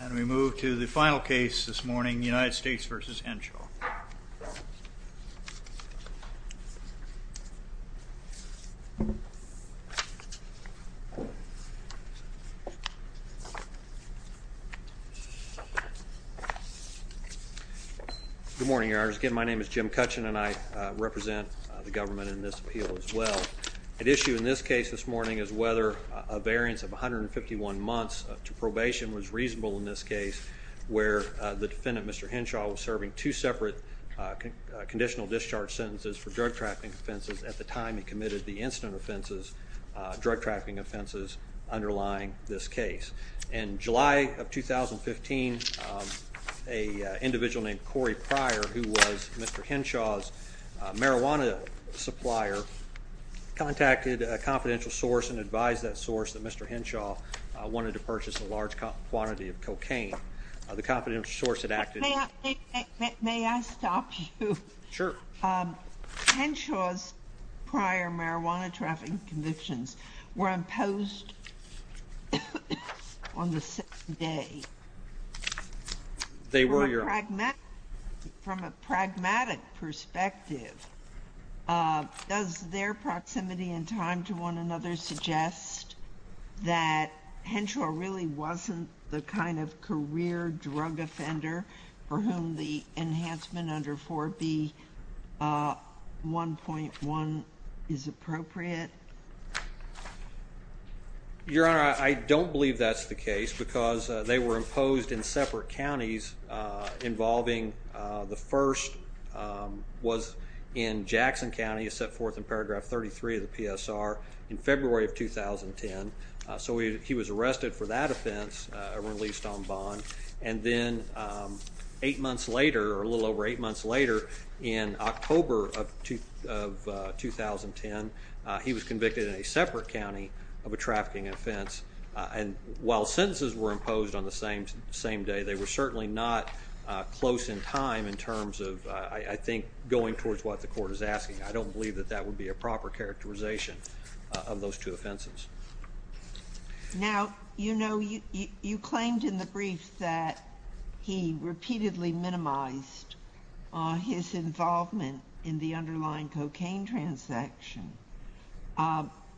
And we move to the final case this morning, United States v. Henshaw. Good morning, Your Honors. Again, my name is Jim Cutchin, and I represent the government in this appeal as well. At issue in this case this morning is whether a variance of 151 months to probation was reasonable in this case, where the defendant, Mr. Henshaw, was serving two separate conditional discharge sentences for drug trafficking offenses at the time he committed the incident offenses, drug trafficking offenses underlying this case. In July of 2015, an individual named Corey Pryor, who was Mr. Henshaw's marijuana supplier, contacted a confidential source and advised that source that Mr. Henshaw wanted to purchase a large quantity of cocaine. The confidential source had acted... May I stop you? Sure. Henshaw's prior marijuana trafficking convictions were imposed on the second day. They were, Your Honor. From a pragmatic perspective, does their proximity in time to one another suggest that Henshaw really wasn't the kind of career drug offender for whom the enhancement under 4B.1.1 is appropriate? Your Honor, I don't believe that's the case because they were imposed in separate counties involving... The first was in Jackson County, set forth in paragraph 33 of the PSR in February of 2010. So he was arrested for that offense and released on bond. And then eight months later, or a little over eight months later, in October of 2010, he was convicted in a separate county of a trafficking offense. And while sentences were imposed on the same day, they were certainly not close in time in terms of, I think, going towards what the court is asking. I don't believe that that would be a proper characterization of those two offenses. Now, you know, you claimed in the brief that he repeatedly minimized his involvement in the underlying cocaine transaction.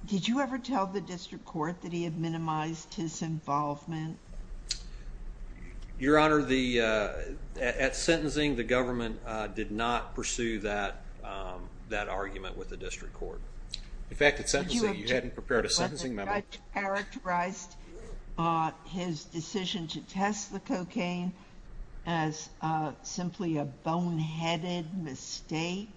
Did you ever tell the district court that he had minimized his involvement? Your Honor, at sentencing, the government did not pursue that argument with the district court. In fact, at sentencing, you hadn't prepared a sentencing memo. Did you object when the judge characterized his decision to test the cocaine as simply a boneheaded mistake?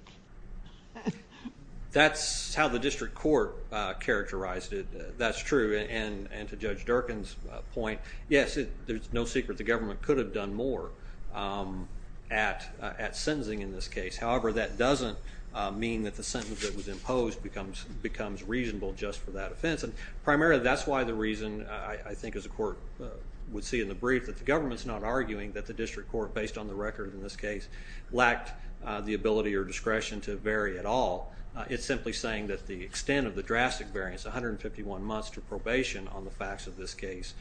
That's how the district court characterized it. That's true. And to Judge Durkin's point, yes, there's no secret the government could have done more at sentencing in this case. However, that doesn't mean that the sentence that was imposed becomes reasonable just for that offense. And primarily that's why the reason, I think, as the court would see in the brief, that the government's not arguing that the district court, based on the record in this case, lacked the ability or discretion to vary at all. It's simply saying that the extent of the drastic variance, 151 months to probation on the facts of this case,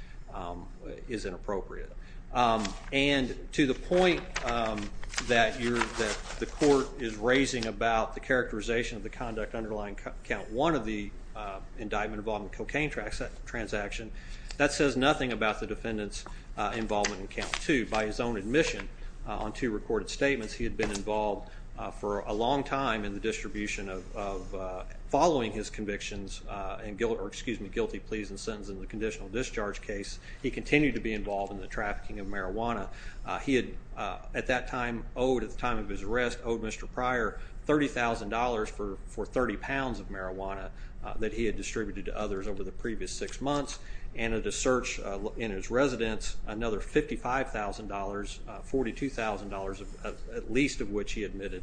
is inappropriate. And to the point that the court is raising about the characterization of the conduct underlying Count 1 of the indictment involving cocaine transaction, that says nothing about the defendant's involvement in Count 2. By his own admission, on two recorded statements, he had been involved for a long time in the distribution of, following his convictions and guilty pleas and sentence in the conditional discharge case, he continued to be involved in the trafficking of marijuana. He had, at that time, owed, at the time of his arrest, owed Mr. Pryor $30,000 for 30 pounds of marijuana that he had distributed to others over the previous six months, and at a search in his residence, another $55,000, $42,000, at least of which he admitted,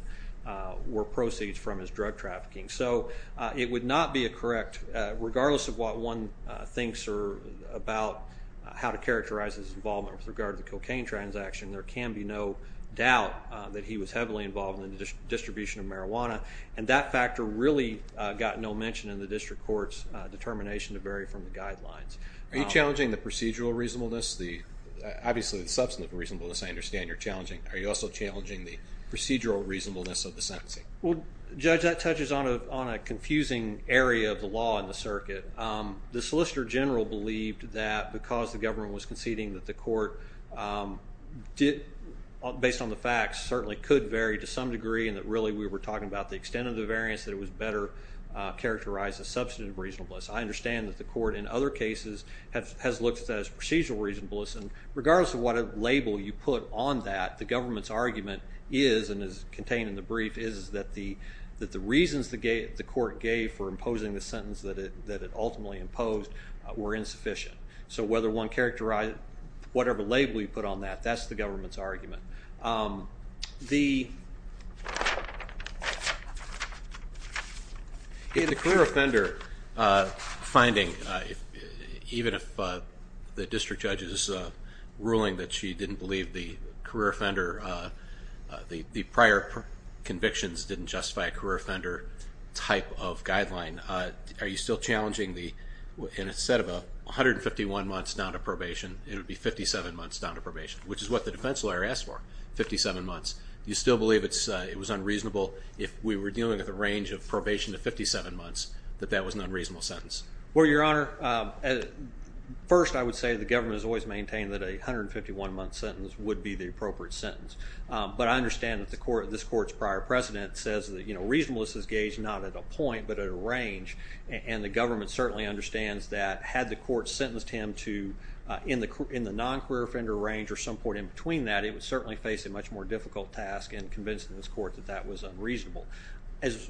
were proceeds from his drug trafficking. So, it would not be correct, regardless of what one thinks about how to characterize his involvement with regard to the cocaine transaction, there can be no doubt that he was heavily involved in the distribution of marijuana, and that factor really got no mention in the district court's determination to vary from the guidelines. Are you challenging the procedural reasonableness? Obviously, the substantive reasonableness I understand you're challenging. Are you also challenging the procedural reasonableness of the sentencing? Well, Judge, that touches on a confusing area of the law in the circuit. The Solicitor General believed that because the government was conceding that the court, based on the facts, certainly could vary to some degree, and that really we were talking about the extent of the variance, that it was better characterized as substantive reasonableness. I understand that the court in other cases has looked at that as procedural reasonableness, and regardless of what label you put on that, the government's argument is, and is contained in the brief, is that the reasons the court gave for imposing the sentence that it ultimately imposed were insufficient. So, whatever label you put on that, that's the government's argument. The career offender finding, even if the district judge is ruling that she didn't believe the career offender, the prior convictions didn't justify a career offender type of guideline, are you still challenging the, instead of 151 months down to probation, it would be 57 months down to probation, which is what the defense lawyer asked for, 57 months. Do you still believe it was unreasonable, if we were dealing with a range of probation to 57 months, that that was an unreasonable sentence? Well, Your Honor, first I would say the government has always maintained that a 151 month sentence would be the appropriate sentence. But I understand that this court's prior precedent says that reasonableness is gauged not at a point, but at a range, and the government certainly understands that had the court sentenced him to, in the non-career offender range, or some point in between that, it would certainly face a much more difficult task in convincing this court that that was unreasonable. As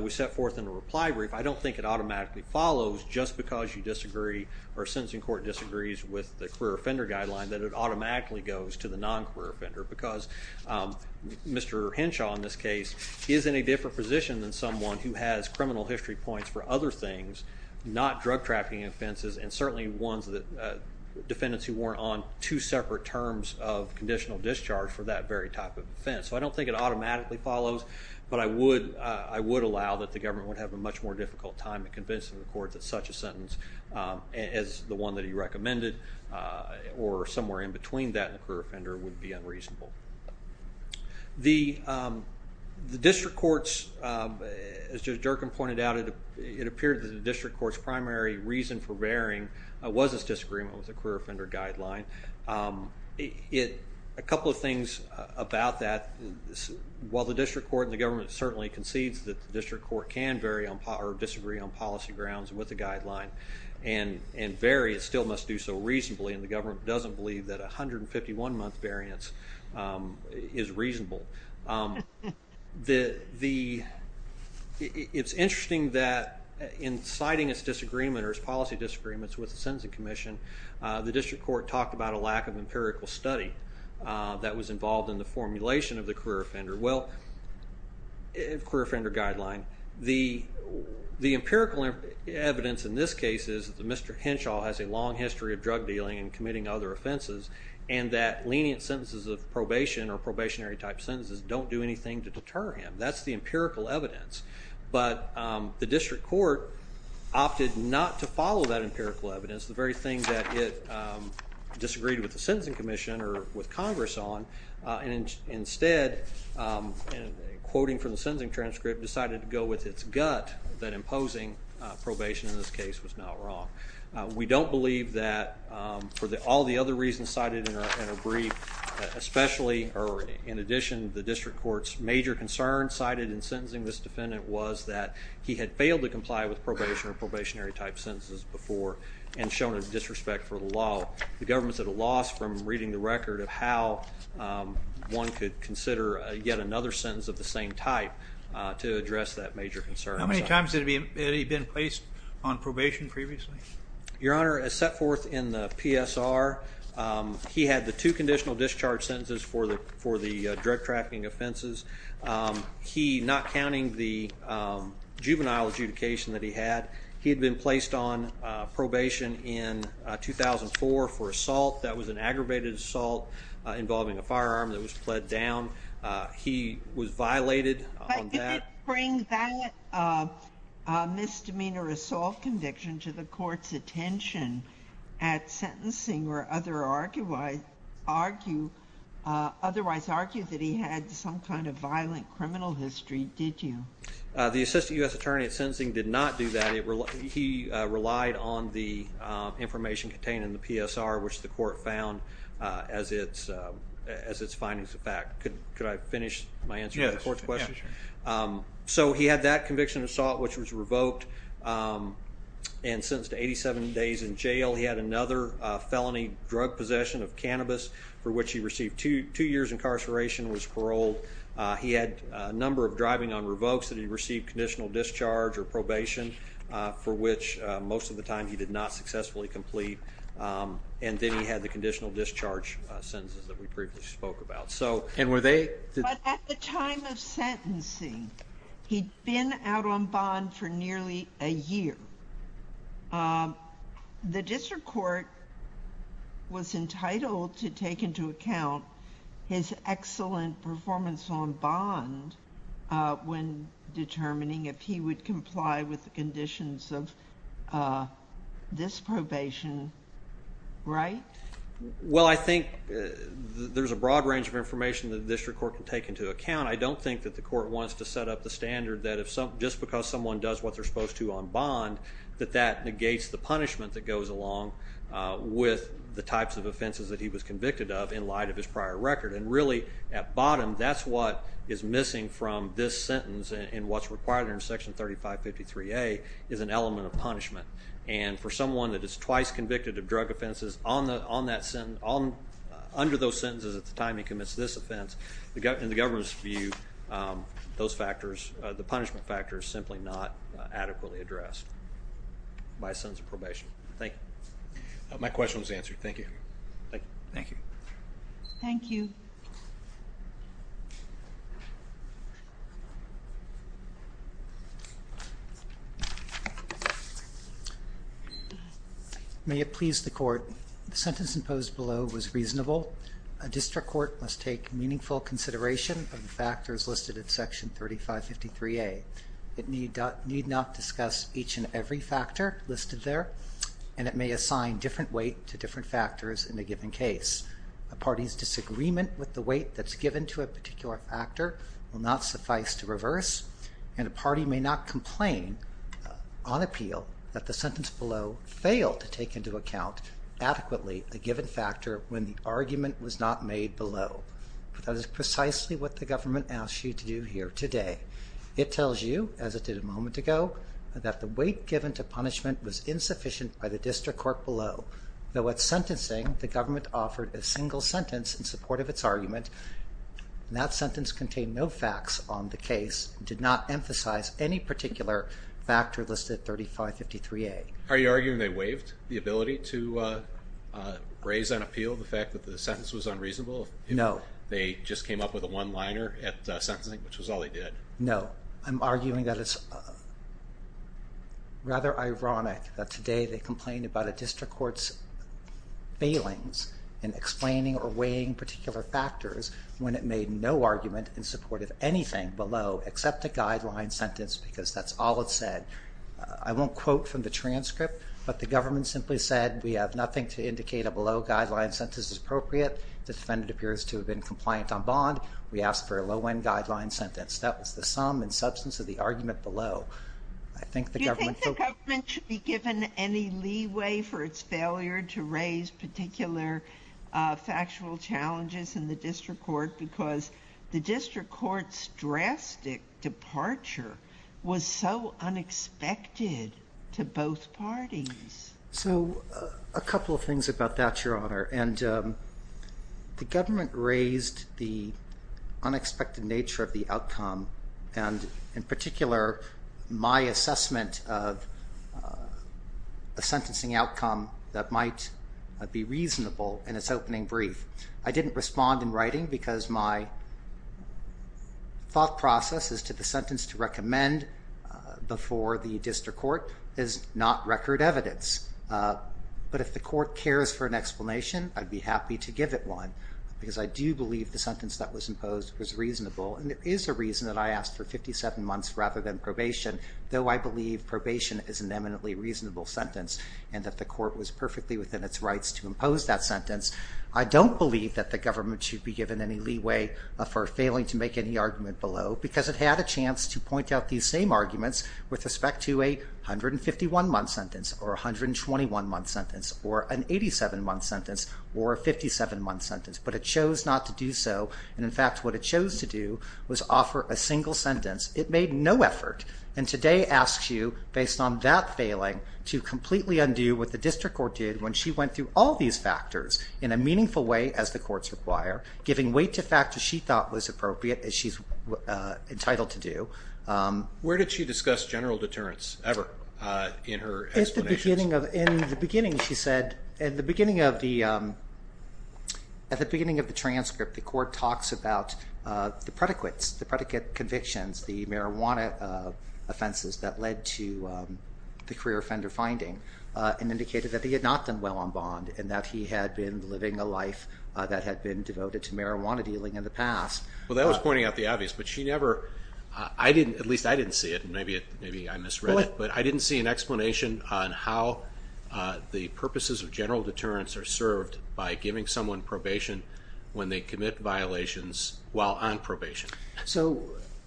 we set forth in the reply brief, I don't think it automatically follows just because you disagree, or a sentencing court disagrees with the career offender guideline, that it automatically goes to the non-career offender. Because Mr. Henshaw, in this case, is in a different position than someone who has criminal history points for other things, not drug trafficking offenses, and certainly defendants who weren't on two separate terms of conditional discharge for that very type of offense. So I don't think it automatically follows, but I would allow that the government would have a much more difficult time in convincing the court that such a sentence, as the one that he recommended, or somewhere in between that and the career offender, would be unreasonable. The district courts, as Judge Durkin pointed out, it appeared that the district court's primary reason for varying was this disagreement with the career offender guideline. A couple of things about that, while the district court and the government certainly concedes that the district court can disagree on policy grounds with the guideline, and vary, it still must do so reasonably, and the government doesn't believe that a 151-month variance is reasonable. It's interesting that in citing its disagreement or its policy disagreements with the sentencing commission, the district court talked about a lack of empirical study that was involved in the formulation of the career offender guideline. The empirical evidence in this case is that Mr. Henshaw has a long history of drug dealing and committing other offenses, and that lenient sentences of probation or probationary type sentences don't do anything to deter him. That's the empirical evidence. But the district court opted not to follow that empirical evidence, the very thing that it disagreed with the sentencing commission or with Congress on, and instead, quoting from the sentencing transcript, decided to go with its gut that imposing probation in this case was not wrong. We don't believe that for all the other reasons cited in our brief, especially, or in addition, the district court's major concern cited in sentencing this defendant was that he had failed to comply with probation or probationary type sentences before, and shown a disrespect for the law. The government's at a loss from reading the record of how one could consider yet another sentence of the same type to address that major concern. How many times had he been placed on probation previously? Your Honor, as set forth in the PSR, he had the two conditional discharge sentences for the drug trafficking offenses. He, not counting the juvenile adjudication that he had, he had been placed on probation in 2004 for assault. That was an aggravated assault involving a firearm that was pled down. He was violated on that. But did it bring that misdemeanor assault conviction to the court's attention at sentencing or otherwise argue that he had some kind of violent criminal history? Did you? The assistant U.S. attorney at sentencing did not do that. He relied on the information contained in the PSR, which the court found as its findings of fact. Could I finish my answer to the court's question? Yes. So he had that conviction of assault, which was revoked, and sentenced to 87 days in jail. He had another felony drug possession of cannabis for which he received two years incarceration and was paroled. He had a number of driving on revokes that he received conditional discharge or probation, for which most of the time he did not successfully complete. And then he had the conditional discharge sentences that we previously spoke about. But at the time of sentencing, he'd been out on bond for nearly a year. The district court was entitled to take into account his excellent performance on bond when determining if he would comply with the conditions of this probation, right? Well, I think there's a broad range of information that the district court can take into account. I don't think that the court wants to set up the standard that just because someone does what they're supposed to on bond that that negates the punishment that goes along with the types of offenses that he was convicted of in light of his prior record. And really, at bottom, that's what is missing from this sentence and what's required under Section 3553A is an element of punishment. And for someone that is twice convicted of drug offenses under those sentences at the time he commits this offense, in the government's view, those factors, the punishment factor is simply not adequately addressed by a sentence of probation. Thank you. My question was answered. Thank you. Thank you. Thank you. May it please the court, the sentence imposed below was reasonable. A district court must take meaningful consideration of the factors listed in Section 3553A. It need not discuss each and every factor listed there, and it may assign different weight to different factors in a given case. A party's disagreement with the weight that's given to a particular factor will not suffice to reverse, and a party may not complain on appeal that the sentence below failed to take into account adequately a given factor when the argument was not made below. But that is precisely what the government asks you to do here today. It tells you, as it did a moment ago, that the weight given to punishment was insufficient by the district court below. Though at sentencing, the government offered a single sentence in support of its argument, and that sentence contained no facts on the case and did not emphasize any particular factor listed at 3553A. Are you arguing they waived the ability to raise on appeal the fact that the sentence was unreasonable? No. They just came up with a one-liner at sentencing, which was all they did? No. I'm arguing that it's rather ironic that today they complain about a district court's failings in explaining or weighing particular factors when it made no argument in support of anything below except a guideline sentence because that's all it said. I won't quote from the transcript, but the government simply said, we have nothing to indicate a below-guideline sentence is appropriate. The defendant appears to have been compliant on bond. We ask for a low-end guideline sentence. That was the sum and substance of the argument below. Do you think the government should be given any leeway for its failure to raise particular factual challenges in the district court because the district court's drastic departure was so unexpected to both parties? A couple of things about that, Your Honor. The government raised the unexpected nature of the outcome, and in particular my assessment of a sentencing outcome that might be reasonable in its opening brief. I didn't respond in writing because my thought process as to the sentence to recommend before the district court is not record evidence. But if the court cares for an explanation, I'd be happy to give it one because I do believe the sentence that was imposed was reasonable, and it is a reason that I asked for 57 months rather than probation, though I believe probation is an eminently reasonable sentence and that the court was perfectly within its rights to impose that sentence. I don't believe that the government should be given any leeway for failing to make any argument below because it had a chance to point out these same arguments with respect to a 151-month sentence or a 121-month sentence or an 87-month sentence or a 57-month sentence, but it chose not to do so, and in fact what it chose to do was offer a single sentence. It made no effort, and today asks you, based on that failing, to completely undo what the district court did when she went through all these factors in a meaningful way, as the courts require, giving weight to factors she thought was appropriate, as she's entitled to do. Where did she discuss general deterrence ever in her explanations? In the beginning, she said, at the beginning of the transcript, the court talks about the predicates, the predicate convictions, the marijuana offenses that led to the career offender finding and indicated that he had not done well on bond and that he had been living a life that had been devoted to marijuana dealing in the past. Well, that was pointing out the obvious, but she never, I didn't, at least I didn't see it, maybe I misread it, but I didn't see an explanation on how the purposes of general deterrence are served by giving someone probation when they commit violations while on probation. So,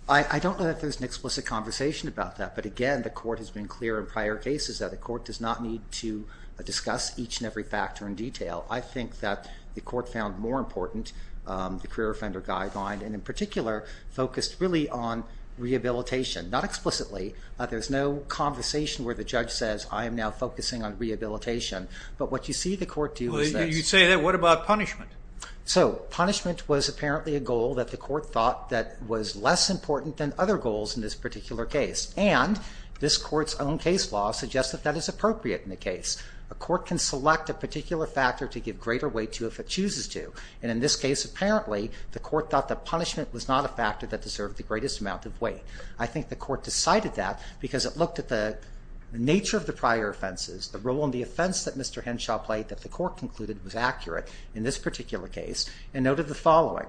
I don't know that there's an explicit conversation about that, but again, the court has been clear in prior cases that the court does not need to discuss each and every factor in detail. I think that the court found more important the career offender guideline, and in particular focused really on rehabilitation, not explicitly. There's no conversation where the judge says, I am now focusing on rehabilitation, but what you see the court do is this. You say that, what about punishment? So, punishment was apparently a goal that the court thought that was less important than other goals in this particular case, and this court's own case law suggests that that is appropriate in the case. A court can select a particular factor to give greater weight to if it chooses to, and in this case, apparently, the court thought that punishment was not a factor that deserved the greatest amount of weight. I think the court decided that because it looked at the nature of the prior offenses, the role and the offense that Mr. Henshaw played that the court concluded was accurate in this particular case, and noted the following.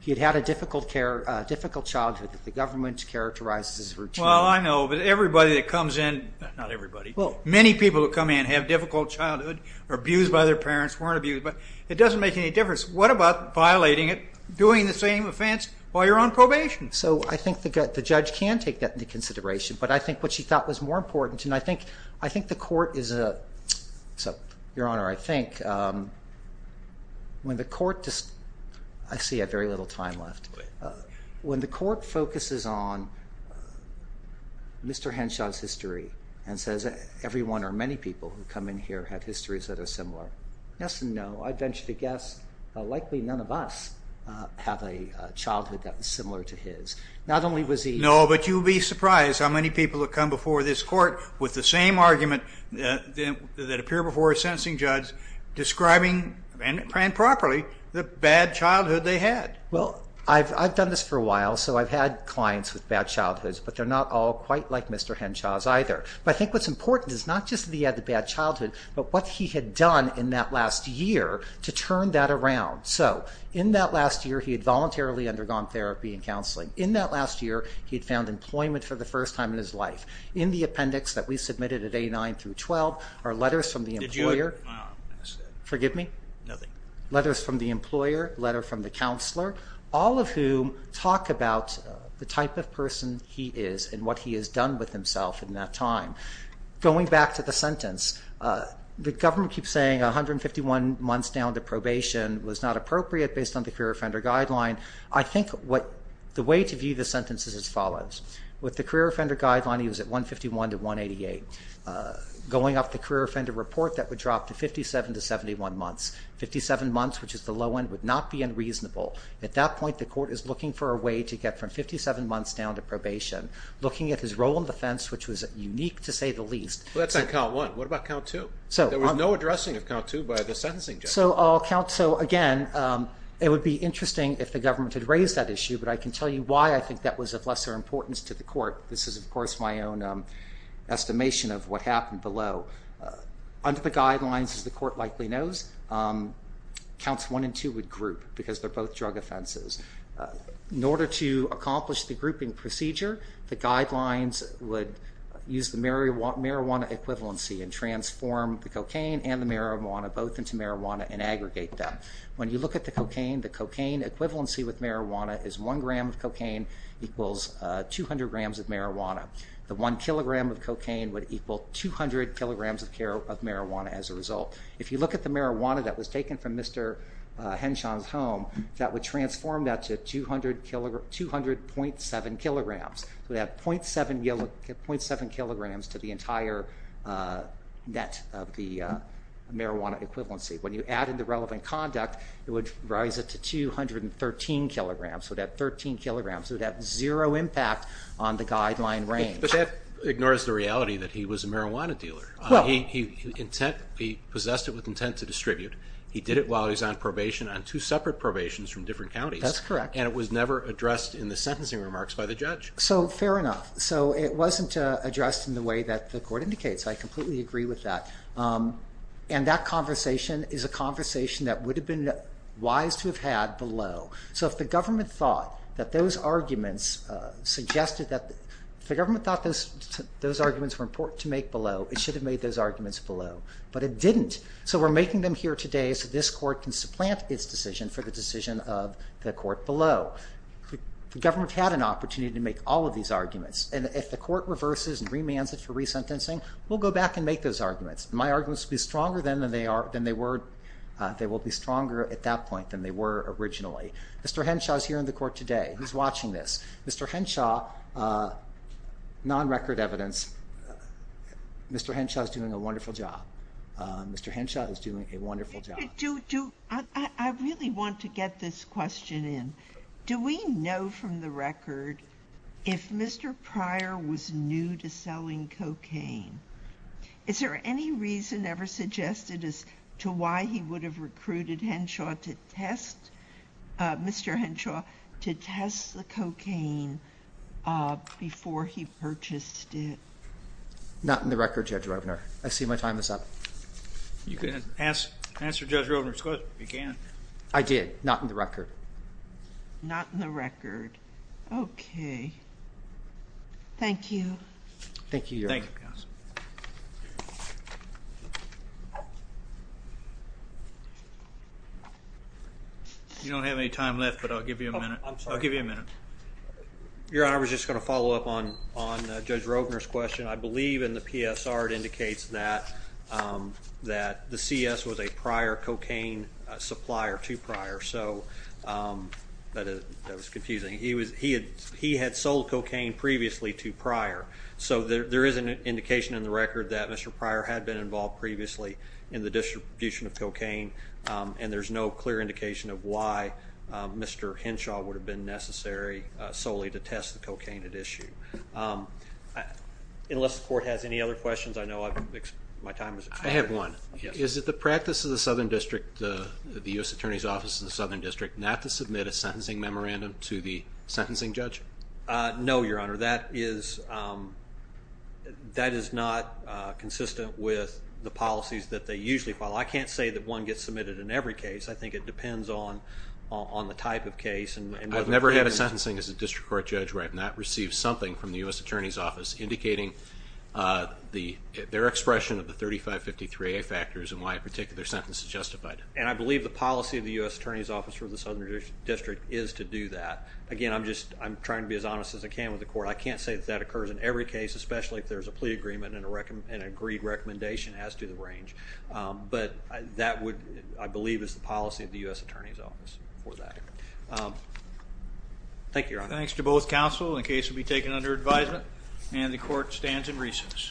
He had had a difficult childhood that the government characterized as routine. Well, I know, but everybody that comes in, not everybody, many people who come in have difficult childhood, are abused by their parents, weren't abused, but it doesn't make any difference. What about violating it, doing the same offense while you're on probation? So, I think the judge can take that into consideration, but I think what she thought was more important, and I think the court is a, so, Your Honor, I think when the court, I see I have very little time left, when the court focuses on Mr. Henshaw's history and says everyone or many people who come in here have histories that are similar, yes and no, I venture to guess likely none of us have a childhood that was similar to his. Not only was he... No, but you'd be surprised how many people have come before this court with the same argument that appear before a sentencing judge describing, and properly, the bad childhood they had. Well, I've done this for a while, so I've had clients with bad childhoods, but they're not all quite like Mr. Henshaw's either. But I think what's important is not just that he had a bad childhood, but what he had done in that last year to turn that around. So, in that last year he had voluntarily undergone therapy and counseling. In that last year he had found employment for the first time in his life. In the appendix that we submitted at A9 through 12 are letters from the employer. Did you... Forgive me? Nothing. Letters from the employer, letter from the counselor, all of whom talk about the type of person he is and what he has done with himself in that time. Going back to the sentence, the government keeps saying 151 months down to probation was not appropriate based on the career offender guideline. I think the way to view the sentence is as follows. With the career offender guideline, he was at 151 to 188. Going off the career offender report, that would drop to 57 to 71 months. Fifty-seven months, which is the low end, would not be unreasonable. At that point, the court is looking for a way to get from 57 months down to probation, looking at his role in defense, which was unique to say the least. Well, that's on count one. What about count two? There was no addressing of count two by the sentencing judge. Again, it would be interesting if the government had raised that issue, but I can tell you why I think that was of lesser importance to the court. This is, of course, my own estimation of what happened below. Under the guidelines, as the court likely knows, counts one and two would group because they're both drug offenses. In order to accomplish the grouping procedure, the guidelines would use the marijuana equivalency and transform the cocaine and the marijuana both into marijuana and aggregate them. When you look at the cocaine, the cocaine equivalency with marijuana is one gram of cocaine equals 200 grams of marijuana. The one kilogram of cocaine would equal 200 kilograms of marijuana as a result. If you look at the marijuana that was taken from Mr. Henshaw's home, that would transform that to 200.7 kilograms. So that 0.7 kilograms to the entire net of the marijuana equivalency. When you added the relevant conduct, it would rise it to 213 kilograms. So that 13 kilograms would have zero impact on the guideline range. But that ignores the reality that he was a marijuana dealer. He possessed it with intent to distribute. He did it while he was on probation on two separate probations from different counties. That's correct. And it was never addressed in the sentencing remarks by the judge. So fair enough. So it wasn't addressed in the way that the court indicates. I completely agree with that. And that conversation is a conversation that would have been wise to have had below. So if the government thought that those arguments were important to make below, it should have made those arguments below. But it didn't. So we're making them here today so this court can supplant its decision for the decision of the court below. The government had an opportunity to make all of these arguments. And if the court reverses and remands it for resentencing, we'll go back and make those arguments. My arguments will be stronger at that point than they were originally. Mr. Henshaw is here in the court today. He's watching this. Mr. Henshaw, non-record evidence, Mr. Henshaw is doing a wonderful job. Mr. Henshaw is doing a wonderful job. I really want to get this question in. Do we know from the record if Mr. Pryor was new to selling cocaine? Is there any reason ever suggested as to why he would have recruited Henshaw to test the cocaine before he purchased it? Not in the record, Judge Roebner. I see my time is up. You can answer Judge Roebner's question if you can. I did. Not in the record. Not in the record. Okay. Thank you. Thank you, Your Honor. Thank you, counsel. You don't have any time left, but I'll give you a minute. I'm sorry. I'll give you a minute. Your Honor, I was just going to follow up on Judge Roebner's question. I believe in the PSR it indicates that the CS was a prior cocaine supplier to Pryor. That was confusing. He had sold cocaine previously to Pryor, so there is an indication in the record that Mr. Pryor had been involved previously in the distribution of cocaine, and there's no clear indication of why Mr. Henshaw would have been necessary solely to test the cocaine at issue. Unless the court has any other questions, I know my time is expired. I have one. Is it the practice of the Southern District, the U.S. Attorney's Office of the Southern District, not to submit a sentencing memorandum to the sentencing judge? No, Your Honor. That is not consistent with the policies that they usually follow. I can't say that one gets submitted in every case. I think it depends on the type of case. I've never had a sentencing as a district court judge where I've not received something from the U.S. Attorney's Office indicating their expression of the 3553A factors and why a particular sentence is justified. And I believe the policy of the U.S. Attorney's Office for the Southern District is to do that. Again, I'm trying to be as honest as I can with the court. I can't say that that occurs in every case, especially if there's a plea agreement and an agreed recommendation as to the range. But that, I believe, is the policy of the U.S. Attorney's Office for that. Thank you, Your Honor. Thanks to both counsel. The case will be taken under advisement. And the court stands in recess. Thank you.